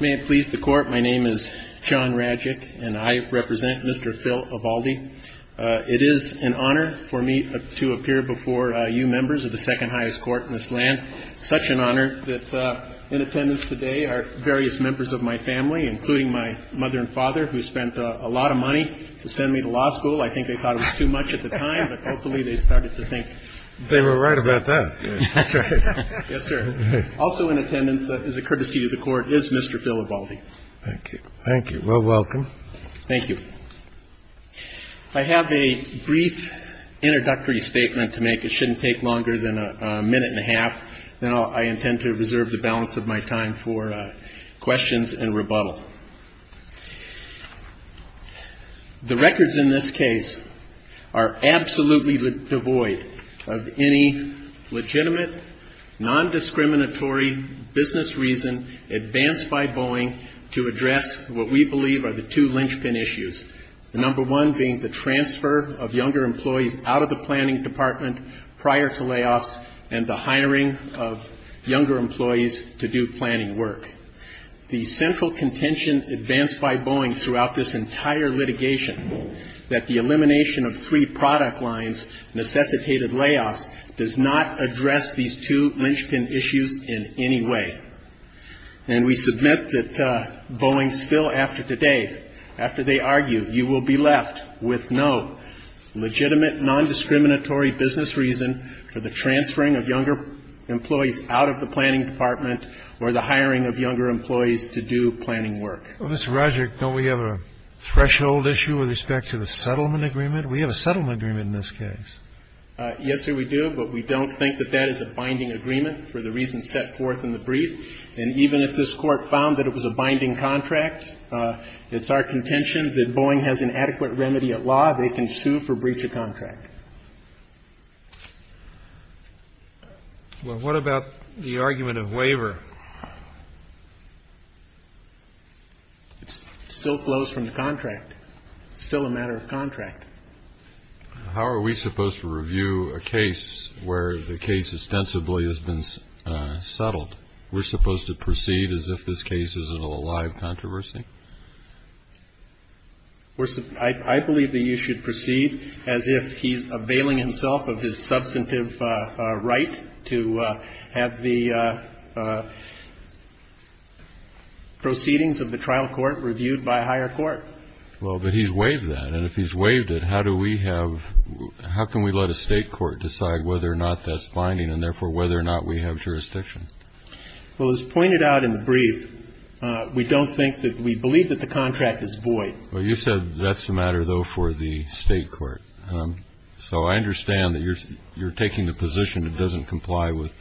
May it please the Court, my name is John Radjic, and I represent Mr. Phil Ivaldy. It is an honor for me to appear before you members of the second highest court in this land. Such an honor that in attendance today are various members of my family, including my mother and father, who spent a lot of money to send me to law school. I think they thought it was too much at the time, but hopefully they started to think they were right about that. That's right. Yes, sir. Also in attendance, as a courtesy to the Court, is Mr. Phil Ivaldy. Thank you. Thank you. Well, welcome. Thank you. I have a brief introductory statement to make. It shouldn't take longer than a minute and a half, and I intend to reserve the balance of my time for questions and rebuttal. The records in this case are absolutely devoid of any legitimate, nondiscriminatory business reason advanced by Boeing to address what we believe are the two linchpin issues, the number one being the transfer of younger employees out of the planning department prior to layoffs and the hiring of younger employees to do planning work. The central contention advanced by Boeing throughout this entire litigation, that the elimination of three product lines necessitated layoffs, does not address these two linchpin issues in any way. And we submit that Boeing still, after today, after they argue, you will be left with no legitimate, nondiscriminatory business reason for the transferring of younger employees out of the planning department or the hiring of younger employees to do planning work. Well, Mr. Roderick, don't we have a threshold issue with respect to the settlement agreement? We have a settlement agreement in this case. Yes, sir, we do, but we don't think that that is a binding agreement for the reasons set forth in the brief. And even if this Court found that it was a binding contract, it's our contention that Boeing has an adequate remedy at law, they can sue for breach of contract. Well, what about the argument of waiver? It still flows from the contract. It's still a matter of contract. How are we supposed to review a case where the case ostensibly has been settled? We're supposed to proceed as if this case is a live controversy? I believe that you should proceed as if he's availing himself of his substantive right to have the proceedings of the trial court reviewed by a higher court. Well, but he's waived that. And if he's waived it, how can we let a state court decide whether or not that's binding and, therefore, whether or not we have jurisdiction? Well, as pointed out in the brief, we don't think that we believe that the contract is void. Well, you said that's a matter, though, for the state court. So I understand that you're taking the position it doesn't comply with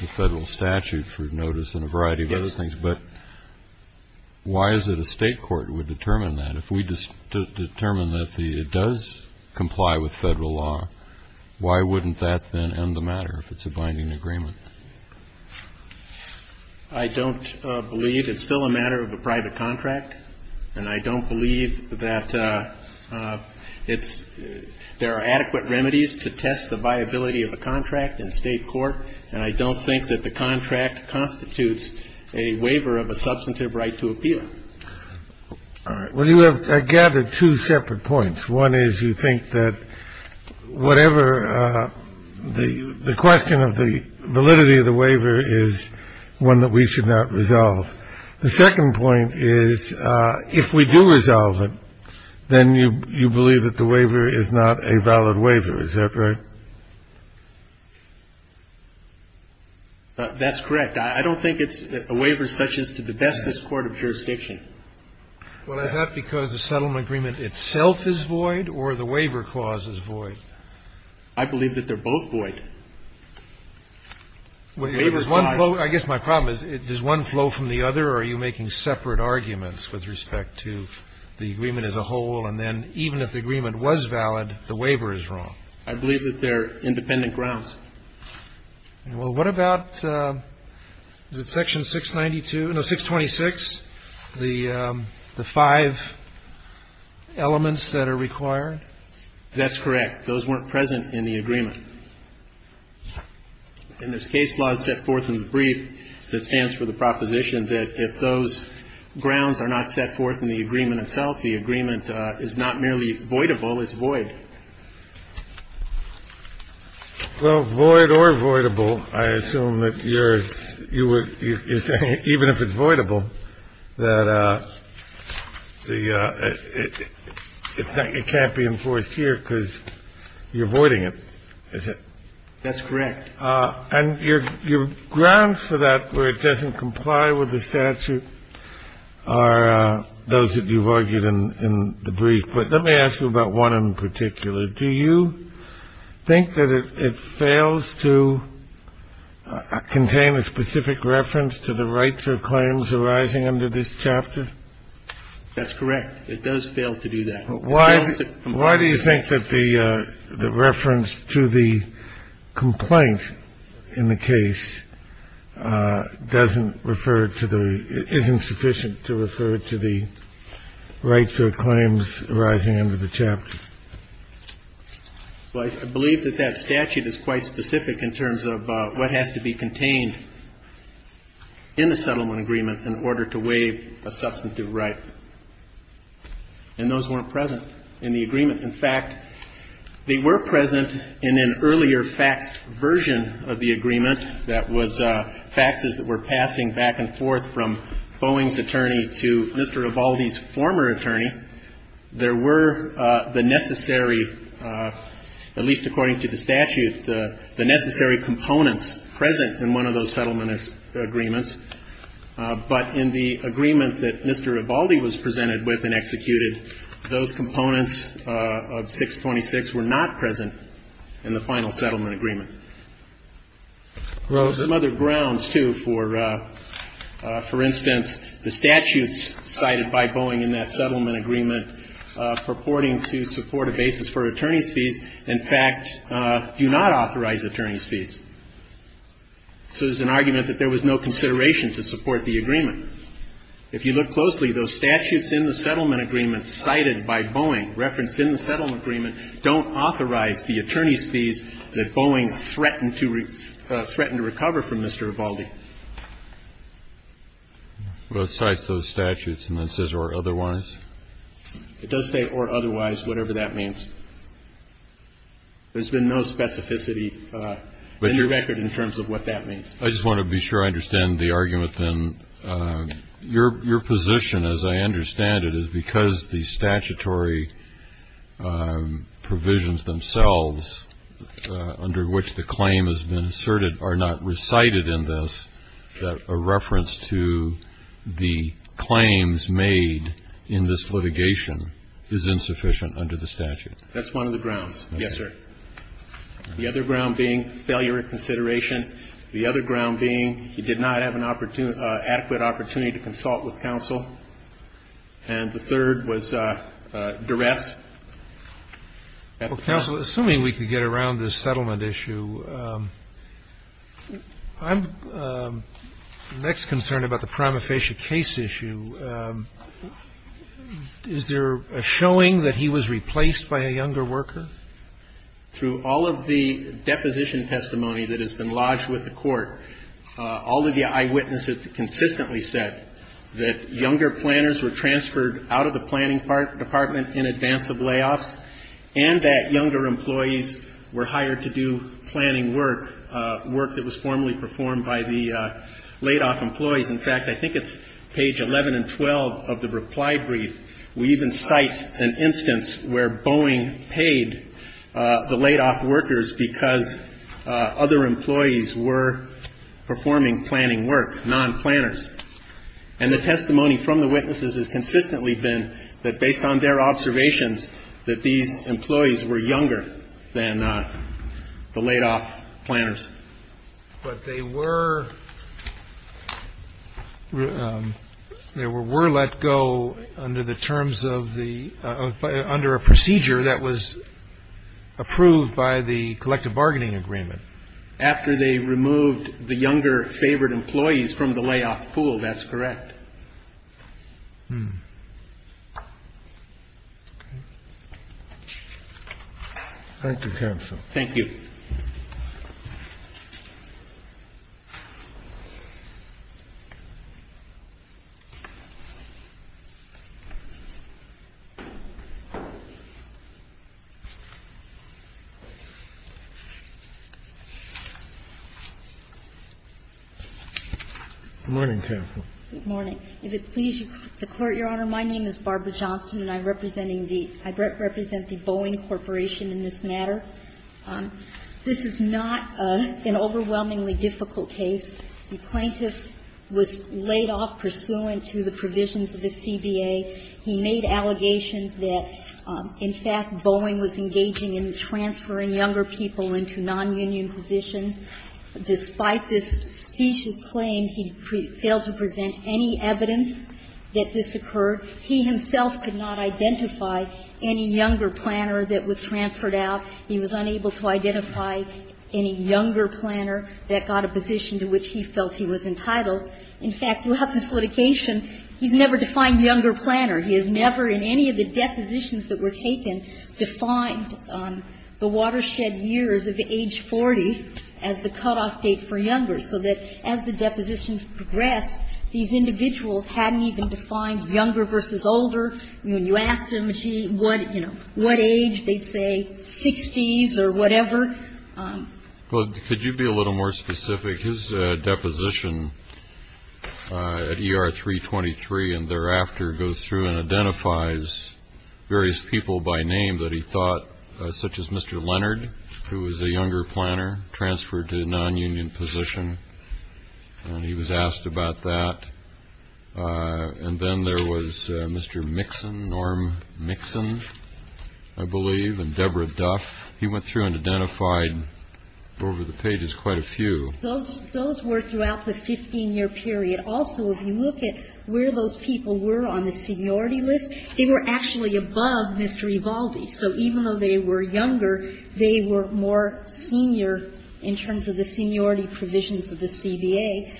the federal statute for notice and a variety of other things. But why is it a state court would determine that? If we determine that it does comply with federal law, why wouldn't that then end the matter if it's a binding agreement? I don't believe it's still a matter of a private contract, and I don't believe that there are adequate remedies to test the viability of a contract in state court, and I don't think that the contract constitutes a waiver of a substantive right to appeal. All right. Well, you have gathered two separate points. One is you think that whatever the question of the validity of the waiver is one that we should not resolve. The second point is if we do resolve it, then you believe that the waiver is not a valid waiver. Is that right? That's correct. I don't think it's a waiver such as to the bestest court of jurisdiction. Well, is that because the settlement agreement itself is void or the waiver clause is void? I believe that they're both void. I guess my problem is, does one flow from the other or are you making separate arguments with respect to the agreement as a whole, and then even if the agreement was valid, the waiver is wrong? I believe that they're independent grounds. Well, what about, is it section 692, no, 626, the five elements that are required? That's correct. Those weren't present in the agreement. And this case law is set forth in the brief that stands for the proposition that if those grounds are not set forth in the agreement itself, the agreement is not merely voidable, it's void. Well, void or voidable, I assume that you're saying even if it's voidable, that it can't be enforced here because you're voiding it, is it? That's correct. And your grounds for that where it doesn't comply with the statute are those that you've argued in the brief. But let me ask you about one in particular. Do you think that it fails to contain a specific reference to the rights or claims arising under this chapter? That's correct. It does fail to do that. Why do you think that the reference to the complaint in the case doesn't refer to the — isn't sufficient to refer to the rights or claims arising under the chapter? Well, I believe that that statute is quite specific in terms of what has to be contained in the settlement agreement in order to waive a substantive right. And those weren't present in the agreement. In fact, they were present in an earlier faxed version of the agreement that was faxes that were passing back and forth from Boeing's attorney to Mr. Ebaldi's former attorney. There were the necessary, at least according to the statute, the necessary components present in one of those settlement agreements. But in the agreement that Mr. Ebaldi was presented with and executed, those components of 626 were not present in the final settlement agreement. Well, there's some other grounds, too. For instance, the statutes cited by Boeing in that settlement agreement purporting to support a basis for attorney's fees, so there's an argument that there was no consideration to support the agreement. If you look closely, those statutes in the settlement agreement cited by Boeing referenced in the settlement agreement don't authorize the attorney's fees that Boeing threatened to recover from Mr. Ebaldi. Well, it cites those statutes and then says or otherwise. It does say or otherwise, whatever that means. There's been no specificity in the record in terms of what that means. I just want to be sure I understand the argument, then. Your position, as I understand it, is because the statutory provisions themselves, under which the claim has been asserted, are not recited in this, that a reference to the claims made in this litigation is insufficient under the statute. That's one of the grounds. Yes, sir. The other ground being failure of consideration. The other ground being he did not have an adequate opportunity to consult with counsel. And the third was duress. Counsel, assuming we could get around this settlement issue, I'm next concerned about the prima facie case issue. Is there a showing that he was replaced by a younger worker? Through all of the deposition testimony that has been lodged with the Court, all of the eyewitnesses consistently said that younger planners were transferred out of the planning department in advance of layoffs and that younger employees were hired to do planning work, work that was formally performed by the laid-off employees. In fact, I think it's page 11 and 12 of the reply brief. We even cite an instance where Boeing paid the laid-off workers because other employees were performing planning work, non-planners. And the testimony from the witnesses has consistently been that, based on their observations, that these employees were younger than the laid-off planners. But they were let go under the terms of the under a procedure that was approved by the collective bargaining agreement. After they removed the younger favored employees from the layoff pool, that's correct. Thank you, counsel. Thank you. Good morning, counsel. Good morning. If it please the Court, Your Honor, my name is Barbara Johnson, and I'm representing the – I represent the Boeing Corporation in this matter. This is not an overwhelmingly difficult case. The plaintiff was laid off pursuant to the provisions of the CBA. He made allegations that, in fact, Boeing was engaging in transferring younger people into nonunion positions. Despite this specious claim, he failed to present any evidence that this occurred. He himself could not identify any younger planner that was transferred out. He was unable to identify any younger planner that got a position to which he felt he was entitled. In fact, throughout this litigation, he's never defined younger planner. He has never, in any of the depositions that were taken, defined the watershed years of age 40 as the cutoff date for younger, so that as the depositions progressed, these individuals hadn't even defined younger versus older. When you asked him what, you know, what age, they'd say 60s or whatever. Well, could you be a little more specific? His deposition at ER 323 and thereafter goes through and identifies various people by name that he thought, such as Mr. Leonard, who was a younger planner, transferred to a nonunion position. And he was asked about that. And then there was Mr. Mixon, Norm Mixon, I believe, and Deborah Duff. He went through and identified over the pages quite a few. Those were throughout the 15-year period. Also, if you look at where those people were on the seniority list, they were actually above Mr. Evaldi. So even though they were younger, they were more senior in terms of the seniority provisions of the CBA.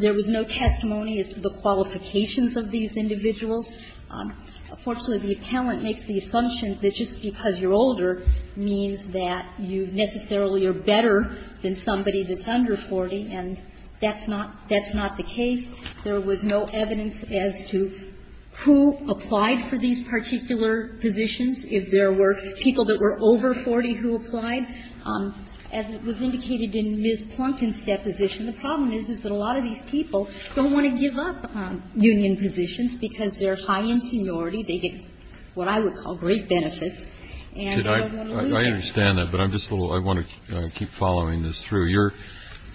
There was no testimony as to the qualifications of these individuals. Unfortunately, the appellant makes the assumption that just because you're older means that you necessarily are better than somebody that's under 40. And that's not the case. There was no evidence as to who applied for these particular positions. If there were people that were over 40 who applied, as was indicated in Ms. Plunkin's deposition, the problem is, is that a lot of these people don't want to give up union positions because they're high in seniority. They get what I would call great benefits. I understand that, but I want to keep following this through.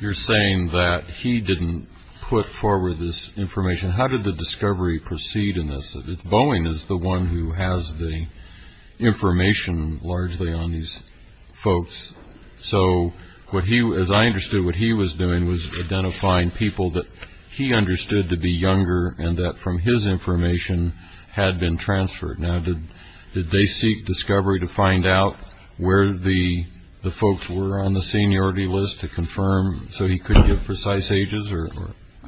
You're saying that he didn't put forward this information. How did the discovery proceed in this? Boeing is the one who has the information largely on these folks. So, as I understood, what he was doing was identifying people that he understood to be transferred. Now, did they seek discovery to find out where the folks were on the seniority list to confirm so he couldn't give precise ages, or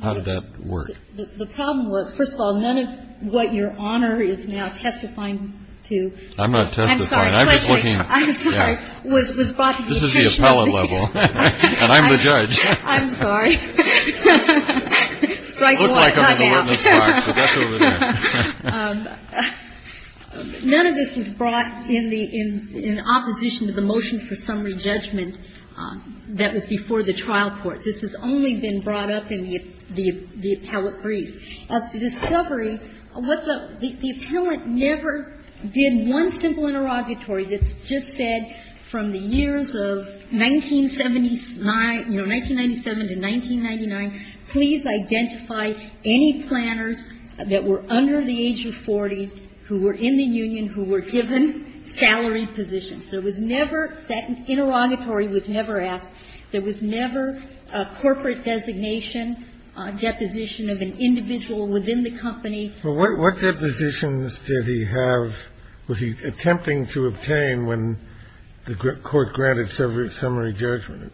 how did that work? The problem was, first of all, none of what your honor is now testifying to. I'm not testifying. I'm just looking. I'm sorry. I'm sorry. Was brought to your attention. This is the appellant level, and I'm the judge. I'm sorry. It looks like I'm in the witness box, but that's over there. None of this was brought in opposition to the motion for summary judgment that was before the trial court. This has only been brought up in the appellate briefs. As to discovery, what the – the appellant never did one simple interrogatory that's just said from the years of 1979 – you know, 1997 to 1999, please identify any planners that were under the age of 40 who were in the union, who were given salary positions. There was never – that interrogatory was never asked. There was never a corporate designation, deposition of an individual within the company. Well, what depositions did he have – was he attempting to obtain when the court granted summary judgment?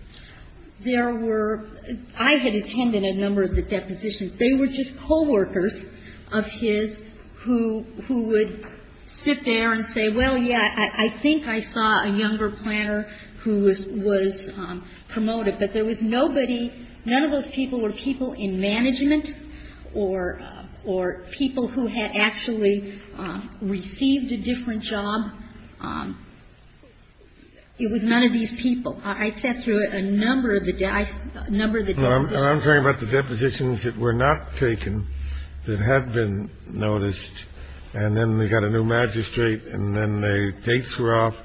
There were – I had attended a number of the depositions. They were just co-workers of his who would sit there and say, well, yeah, I think I saw a younger planner who was promoted. But there was nobody – none of those people were people in management or people who had actually received a different job. It was none of these people. I sat through a number of the – a number of the depositions. And I'm talking about the depositions that were not taken, that had been noticed, and then they got a new magistrate, and then the dates were off.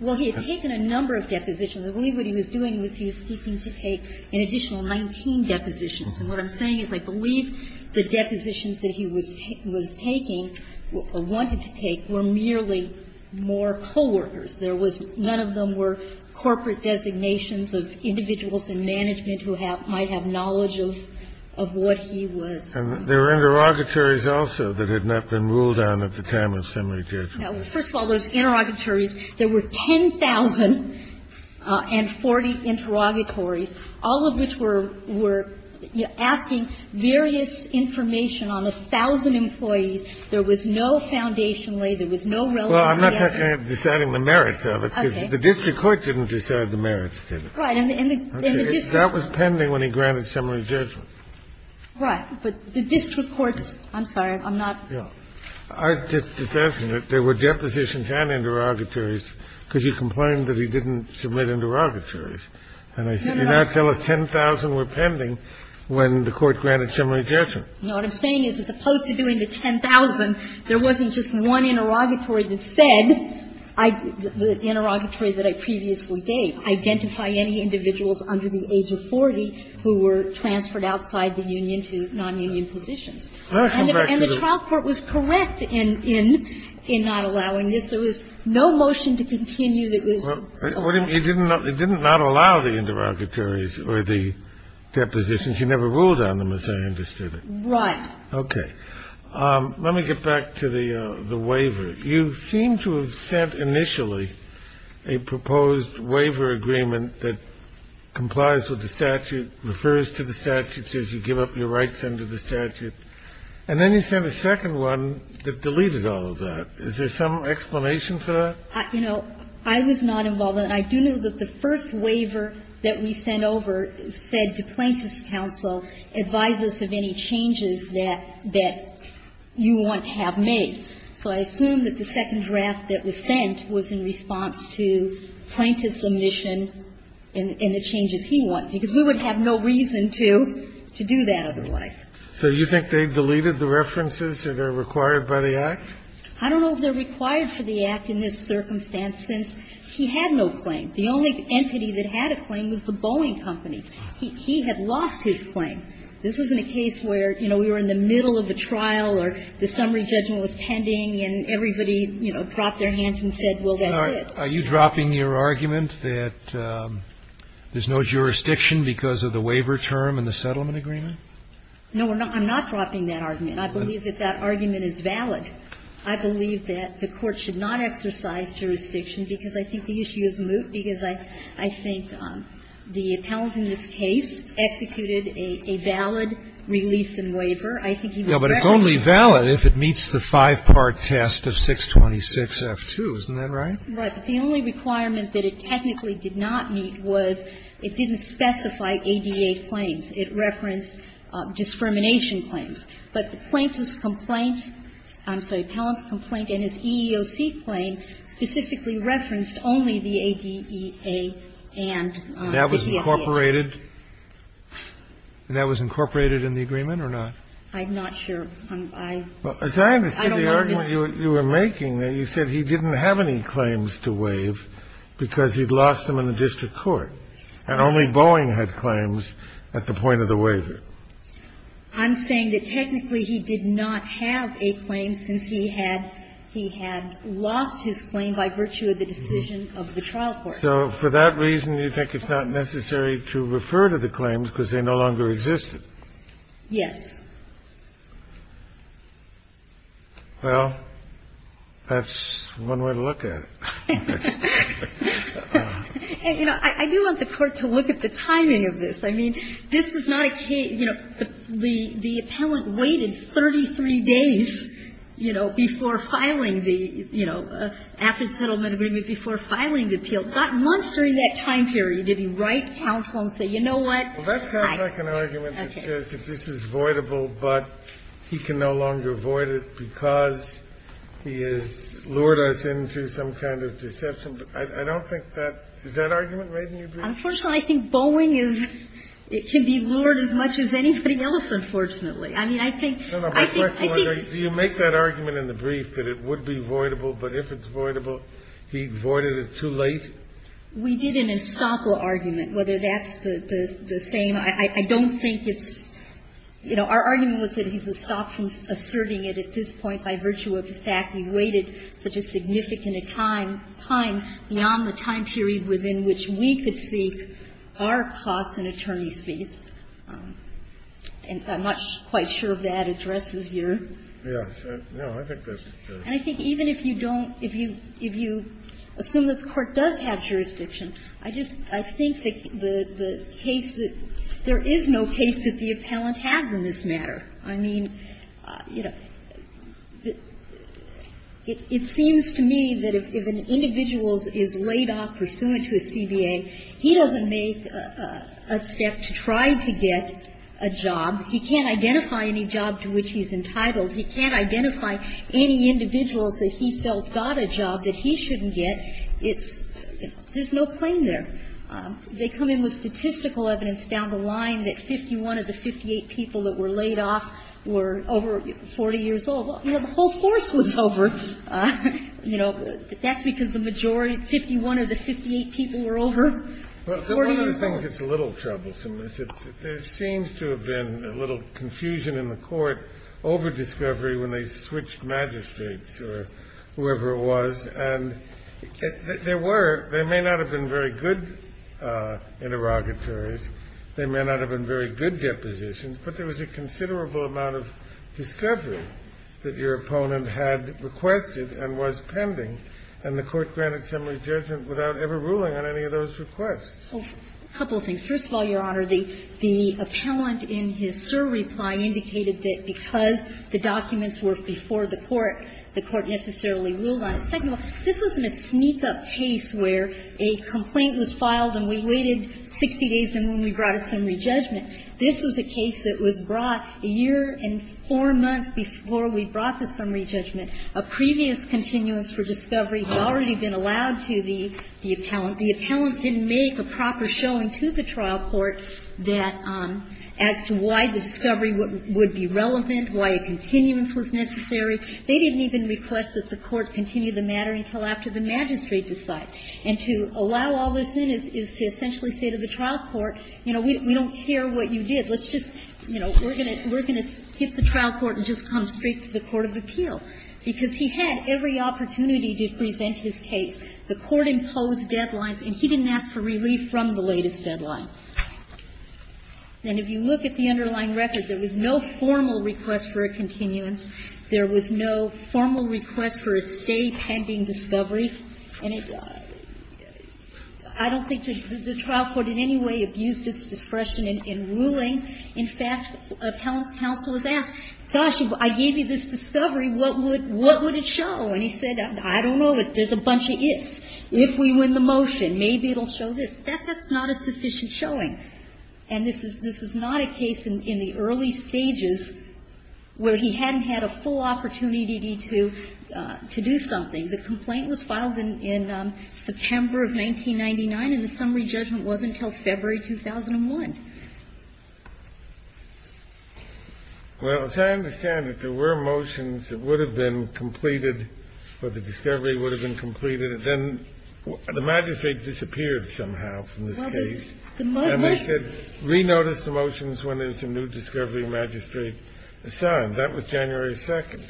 Well, he had taken a number of depositions. I believe what he was doing was he was seeking to take an additional 19 depositions. And what I'm saying is I believe the depositions that he was taking or wanted to take were merely more co-workers. There was – none of them were corporate designations of individuals in management who might have knowledge of what he was. And there were interrogatories also that had not been ruled on at the time of summary judgment. Now, first of all, those interrogatories, there were 10,040 interrogatories, all of which were – were asking various information on a thousand employees. There was no foundation lay. There was no relevancy assessment. Well, I'm not talking about deciding the merits of it, because the district court didn't decide the merits, did it? Right. And the district court – That was pending when he granted summary judgment. Right. But the district court – I'm sorry. I'm not – Yeah. I'm just suggesting that there were depositions and interrogatories because you complained that he didn't submit interrogatories. And you now tell us 10,000 were pending when the court granted summary judgment. No. What I'm saying is as opposed to doing the 10,000, there wasn't just one interrogatory that said, the interrogatory that I previously gave, identify any individuals under the age of 40 who were transferred outside the union to nonunion positions. And the trial court was correct in not allowing this. There was no motion to continue that was – Well, it didn't not allow the interrogatories or the depositions. He never ruled on them, as I understood it. Right. Okay. Let me get back to the waiver. You seem to have sent initially a proposed waiver agreement that complies with the statute, refers to the statute, says you give up your rights under the statute. And then you sent a second one that deleted all of that. Is there some explanation for that? You know, I was not involved in it. I do know that the first waiver that we sent over said to Plaintiff's counsel, advise us of any changes that you want to have made. So I assume that the second draft that was sent was in response to Plaintiff's and the changes he wanted, because we would have no reason to, to do that otherwise. So you think they've deleted the references that are required by the Act? I don't know if they're required for the Act in this circumstance, since he had no claim. The only entity that had a claim was the Boeing Company. He had lost his claim. This wasn't a case where, you know, we were in the middle of a trial or the summary judgment was pending and everybody, you know, dropped their hands and said, well, that's it. Are you dropping your argument that there's no jurisdiction because of the waiver term and the settlement agreement? No, we're not. I'm not dropping that argument. I believe that that argument is valid. I believe that the Court should not exercise jurisdiction because I think the issue is moot, because I, I think the appellant in this case executed a, a valid release in waiver. I think he would recommend it. Yeah, but it's only valid if it meets the five-part test of 626F2. Isn't that right? Right. But the only requirement that it technically did not meet was it didn't specify ADA claims. It referenced discrimination claims. But the plaintiff's complaint, I'm sorry, appellant's complaint and his EEOC claim specifically referenced only the ADEA and the DSEA. And that was incorporated? And that was incorporated in the agreement or not? I'm not sure. Well, as I understand the argument you were making, you said he didn't have any claims to waive because he'd lost them in the district court, and only Boeing had claims at the point of the waiver. I'm saying that technically he did not have a claim since he had, he had lost his claim by virtue of the decision of the trial court. So for that reason, you think it's not necessary to refer to the claims because they no longer existed? Yes. Well, that's one way to look at it. And, you know, I do want the Court to look at the timing of this. I mean, this is not a case, you know, the appellant waited 33 days, you know, before filing the, you know, after settlement agreement, before filing the appeal. Not once during that time period did he write counsel and say, you know what, fine. Well, that sounds like an argument that says if this is voidable, but he can no longer void it because he has lured us into some kind of deception. I don't think that, is that argument right in your brief? Unfortunately, I think Boeing is, it can be lured as much as anybody else, unfortunately. I mean, I think, I think, I think. Do you make that argument in the brief that it would be voidable, but if it's voidable, he voided it too late? We did an estoppel argument, whether that's the same. I don't think it's, you know, our argument was that he's estopped from asserting it at this point by virtue of the fact he waited such a significant time, time beyond the time period within which we could seek our costs and attorneys' fees. And I'm not quite sure if that addresses your. Yes. No, I think that's true. And I think even if you don't, if you, if you assume that the Court does have jurisdiction, I just, I think that the, the case that, there is no case that the appellant has in this matter. I mean, you know, it seems to me that if an individual is laid off pursuant to a CBA, he doesn't make a step to try to get a job. He can't identify any job to which he's entitled. He can't identify any individuals that he felt got a job that he shouldn't get. It's, you know, there's no claim there. They come in with statistical evidence down the line that 51 of the 58 people that were laid off were over 40 years old. You know, the whole course was over. You know, that's because the majority, 51 of the 58 people were over 40 years old. But one of the things that's a little troublesome is there seems to have been a little confusion in the Court over discovery when they switched magistrates or whoever it was. And there were, there may not have been very good interrogatories. There may not have been very good depositions. But there was a considerable amount of discovery that your opponent had requested and was pending. And the Court granted summary judgment without ever ruling on any of those requests. A couple of things. First of all, Your Honor, the appellant in his SIR reply indicated that because the documents were before the Court, the Court necessarily ruled on it. Second of all, this wasn't a sneak-up case where a complaint was filed and we waited 60 days and then we brought a summary judgment. This was a case that was brought a year and four months before we brought the summary judgment. A previous continuance for discovery had already been allowed to the appellant. The appellant didn't make a proper showing to the trial court that, as to why the discovery would be relevant, why a continuance was necessary. They didn't even request that the Court continue the matter until after the magistrate decided. And to allow all this in is to essentially say to the trial court, you know, we don't care what you did. Let's just, you know, we're going to hit the trial court and just come straight to the court of appeal. Because he had every opportunity to present his case. The Court imposed deadlines, and he didn't ask for relief from the latest deadline. And if you look at the underlying record, there was no formal request for a continuance. There was no formal request for a stay pending discovery. And it was – I don't think the trial court in any way abused its discretion in ruling. In fact, an appellant's counsel was asked, gosh, if I gave you this discovery, what would it show? And he said, I don't know, but there's a bunch of ifs. If we win the motion, maybe it'll show this. That's not a sufficient showing. And this is not a case in the early stages where he hadn't had a full opportunity to do something. The complaint was filed in September of 1999, and the summary judgment wasn't until February 2001. Well, as I understand it, there were motions that would have been completed or the discovery would have been completed, and then the magistrate disappeared somehow from this case. And they said, re-notice the motions when there's a new discovery magistrate assigned. That was January 2nd.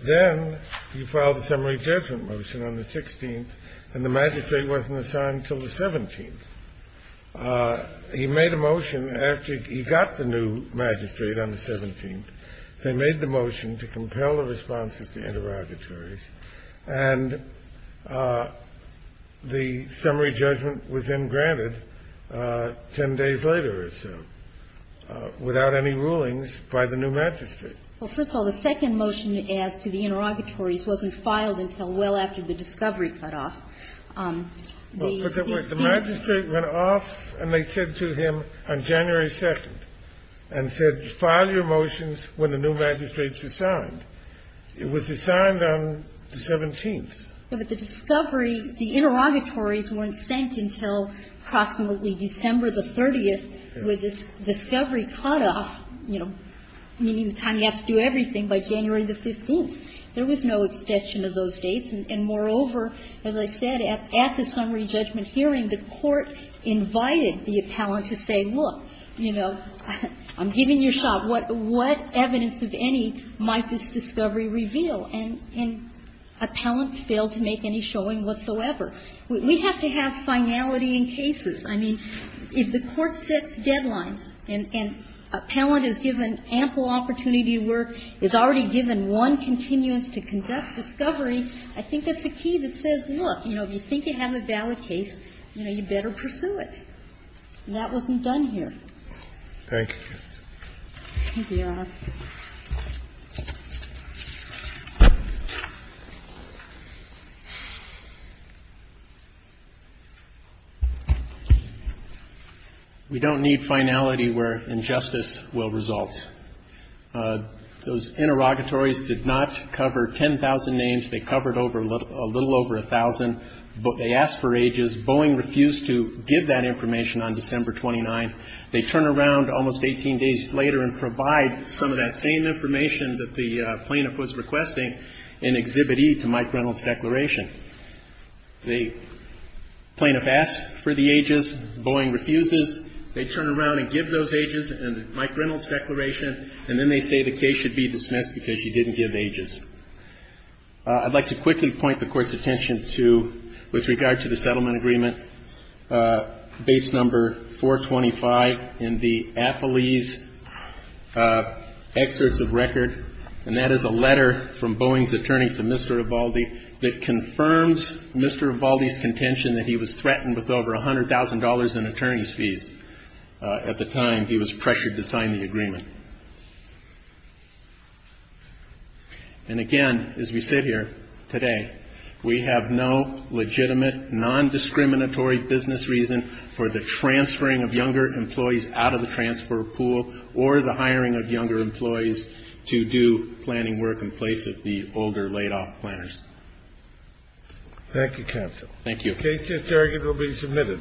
Then you filed a summary judgment motion on the 16th, and the magistrate wasn't assigned until the 17th. He made a motion after he got the new magistrate on the 17th. They made the motion to compel the responses to interrogatories, and the summary judgment was then granted 10 days later or so without any rulings by the new magistrate. Well, first of all, the second motion as to the interrogatories wasn't filed until well after the discovery cut off. The magistrate went off and they said to him on January 2nd and said, file your motions when the new magistrate's assigned. It was assigned on the 17th. But the discovery, the interrogatories weren't sent until approximately December the 30th, where this discovery cut off, you know, meaning the time you have to do everything, by January the 15th. There was no extension of those dates. And moreover, as I said, at the summary judgment hearing, the Court invited the appellant to say, look, you know, I'm giving you a shot. What evidence, if any, might this discovery reveal? And appellant failed to make any showing whatsoever. We have to have finality in cases. I mean, if the Court sets deadlines and appellant is given ample opportunity to work, is already given one continuance to conduct discovery, I think that's a key that says, look, you know, if you think you have a valid case, you know, you better pursue it. And that wasn't done here. Thank you. Thank you, Your Honor. We don't need finality where injustice will result. Those interrogatories did not cover 10,000 names. They covered a little over 1,000. They asked for ages. Boeing refused to give that information on December 29th. They turn around almost 18 days later and provide some of that same information that the plaintiff was requesting in Exhibit E to Mike Reynolds' declaration. The plaintiff asked for the ages. Boeing refuses. They turn around and give those ages. And Mike Reynolds' declaration. And then they say the case should be dismissed because you didn't give ages. I'd like to quickly point the Court's attention to, with regard to the settlement agreement, Base Number 425 in the Appellee's Excerpts of Record. And that is a letter from Boeing's attorney to Mr. Ivaldi that confirms Mr. Ivaldi's contention that he was threatened with over $100,000 in attorney's fees. At the time, he was pressured to sign the agreement. And again, as we sit here today, we have no legitimate, non-discriminatory business reason for the transferring of younger employees out of the transfer pool or the hiring of younger employees to do planning work in place of the older laid-off planners. Thank you, counsel. Thank you. The case is arguably submitted.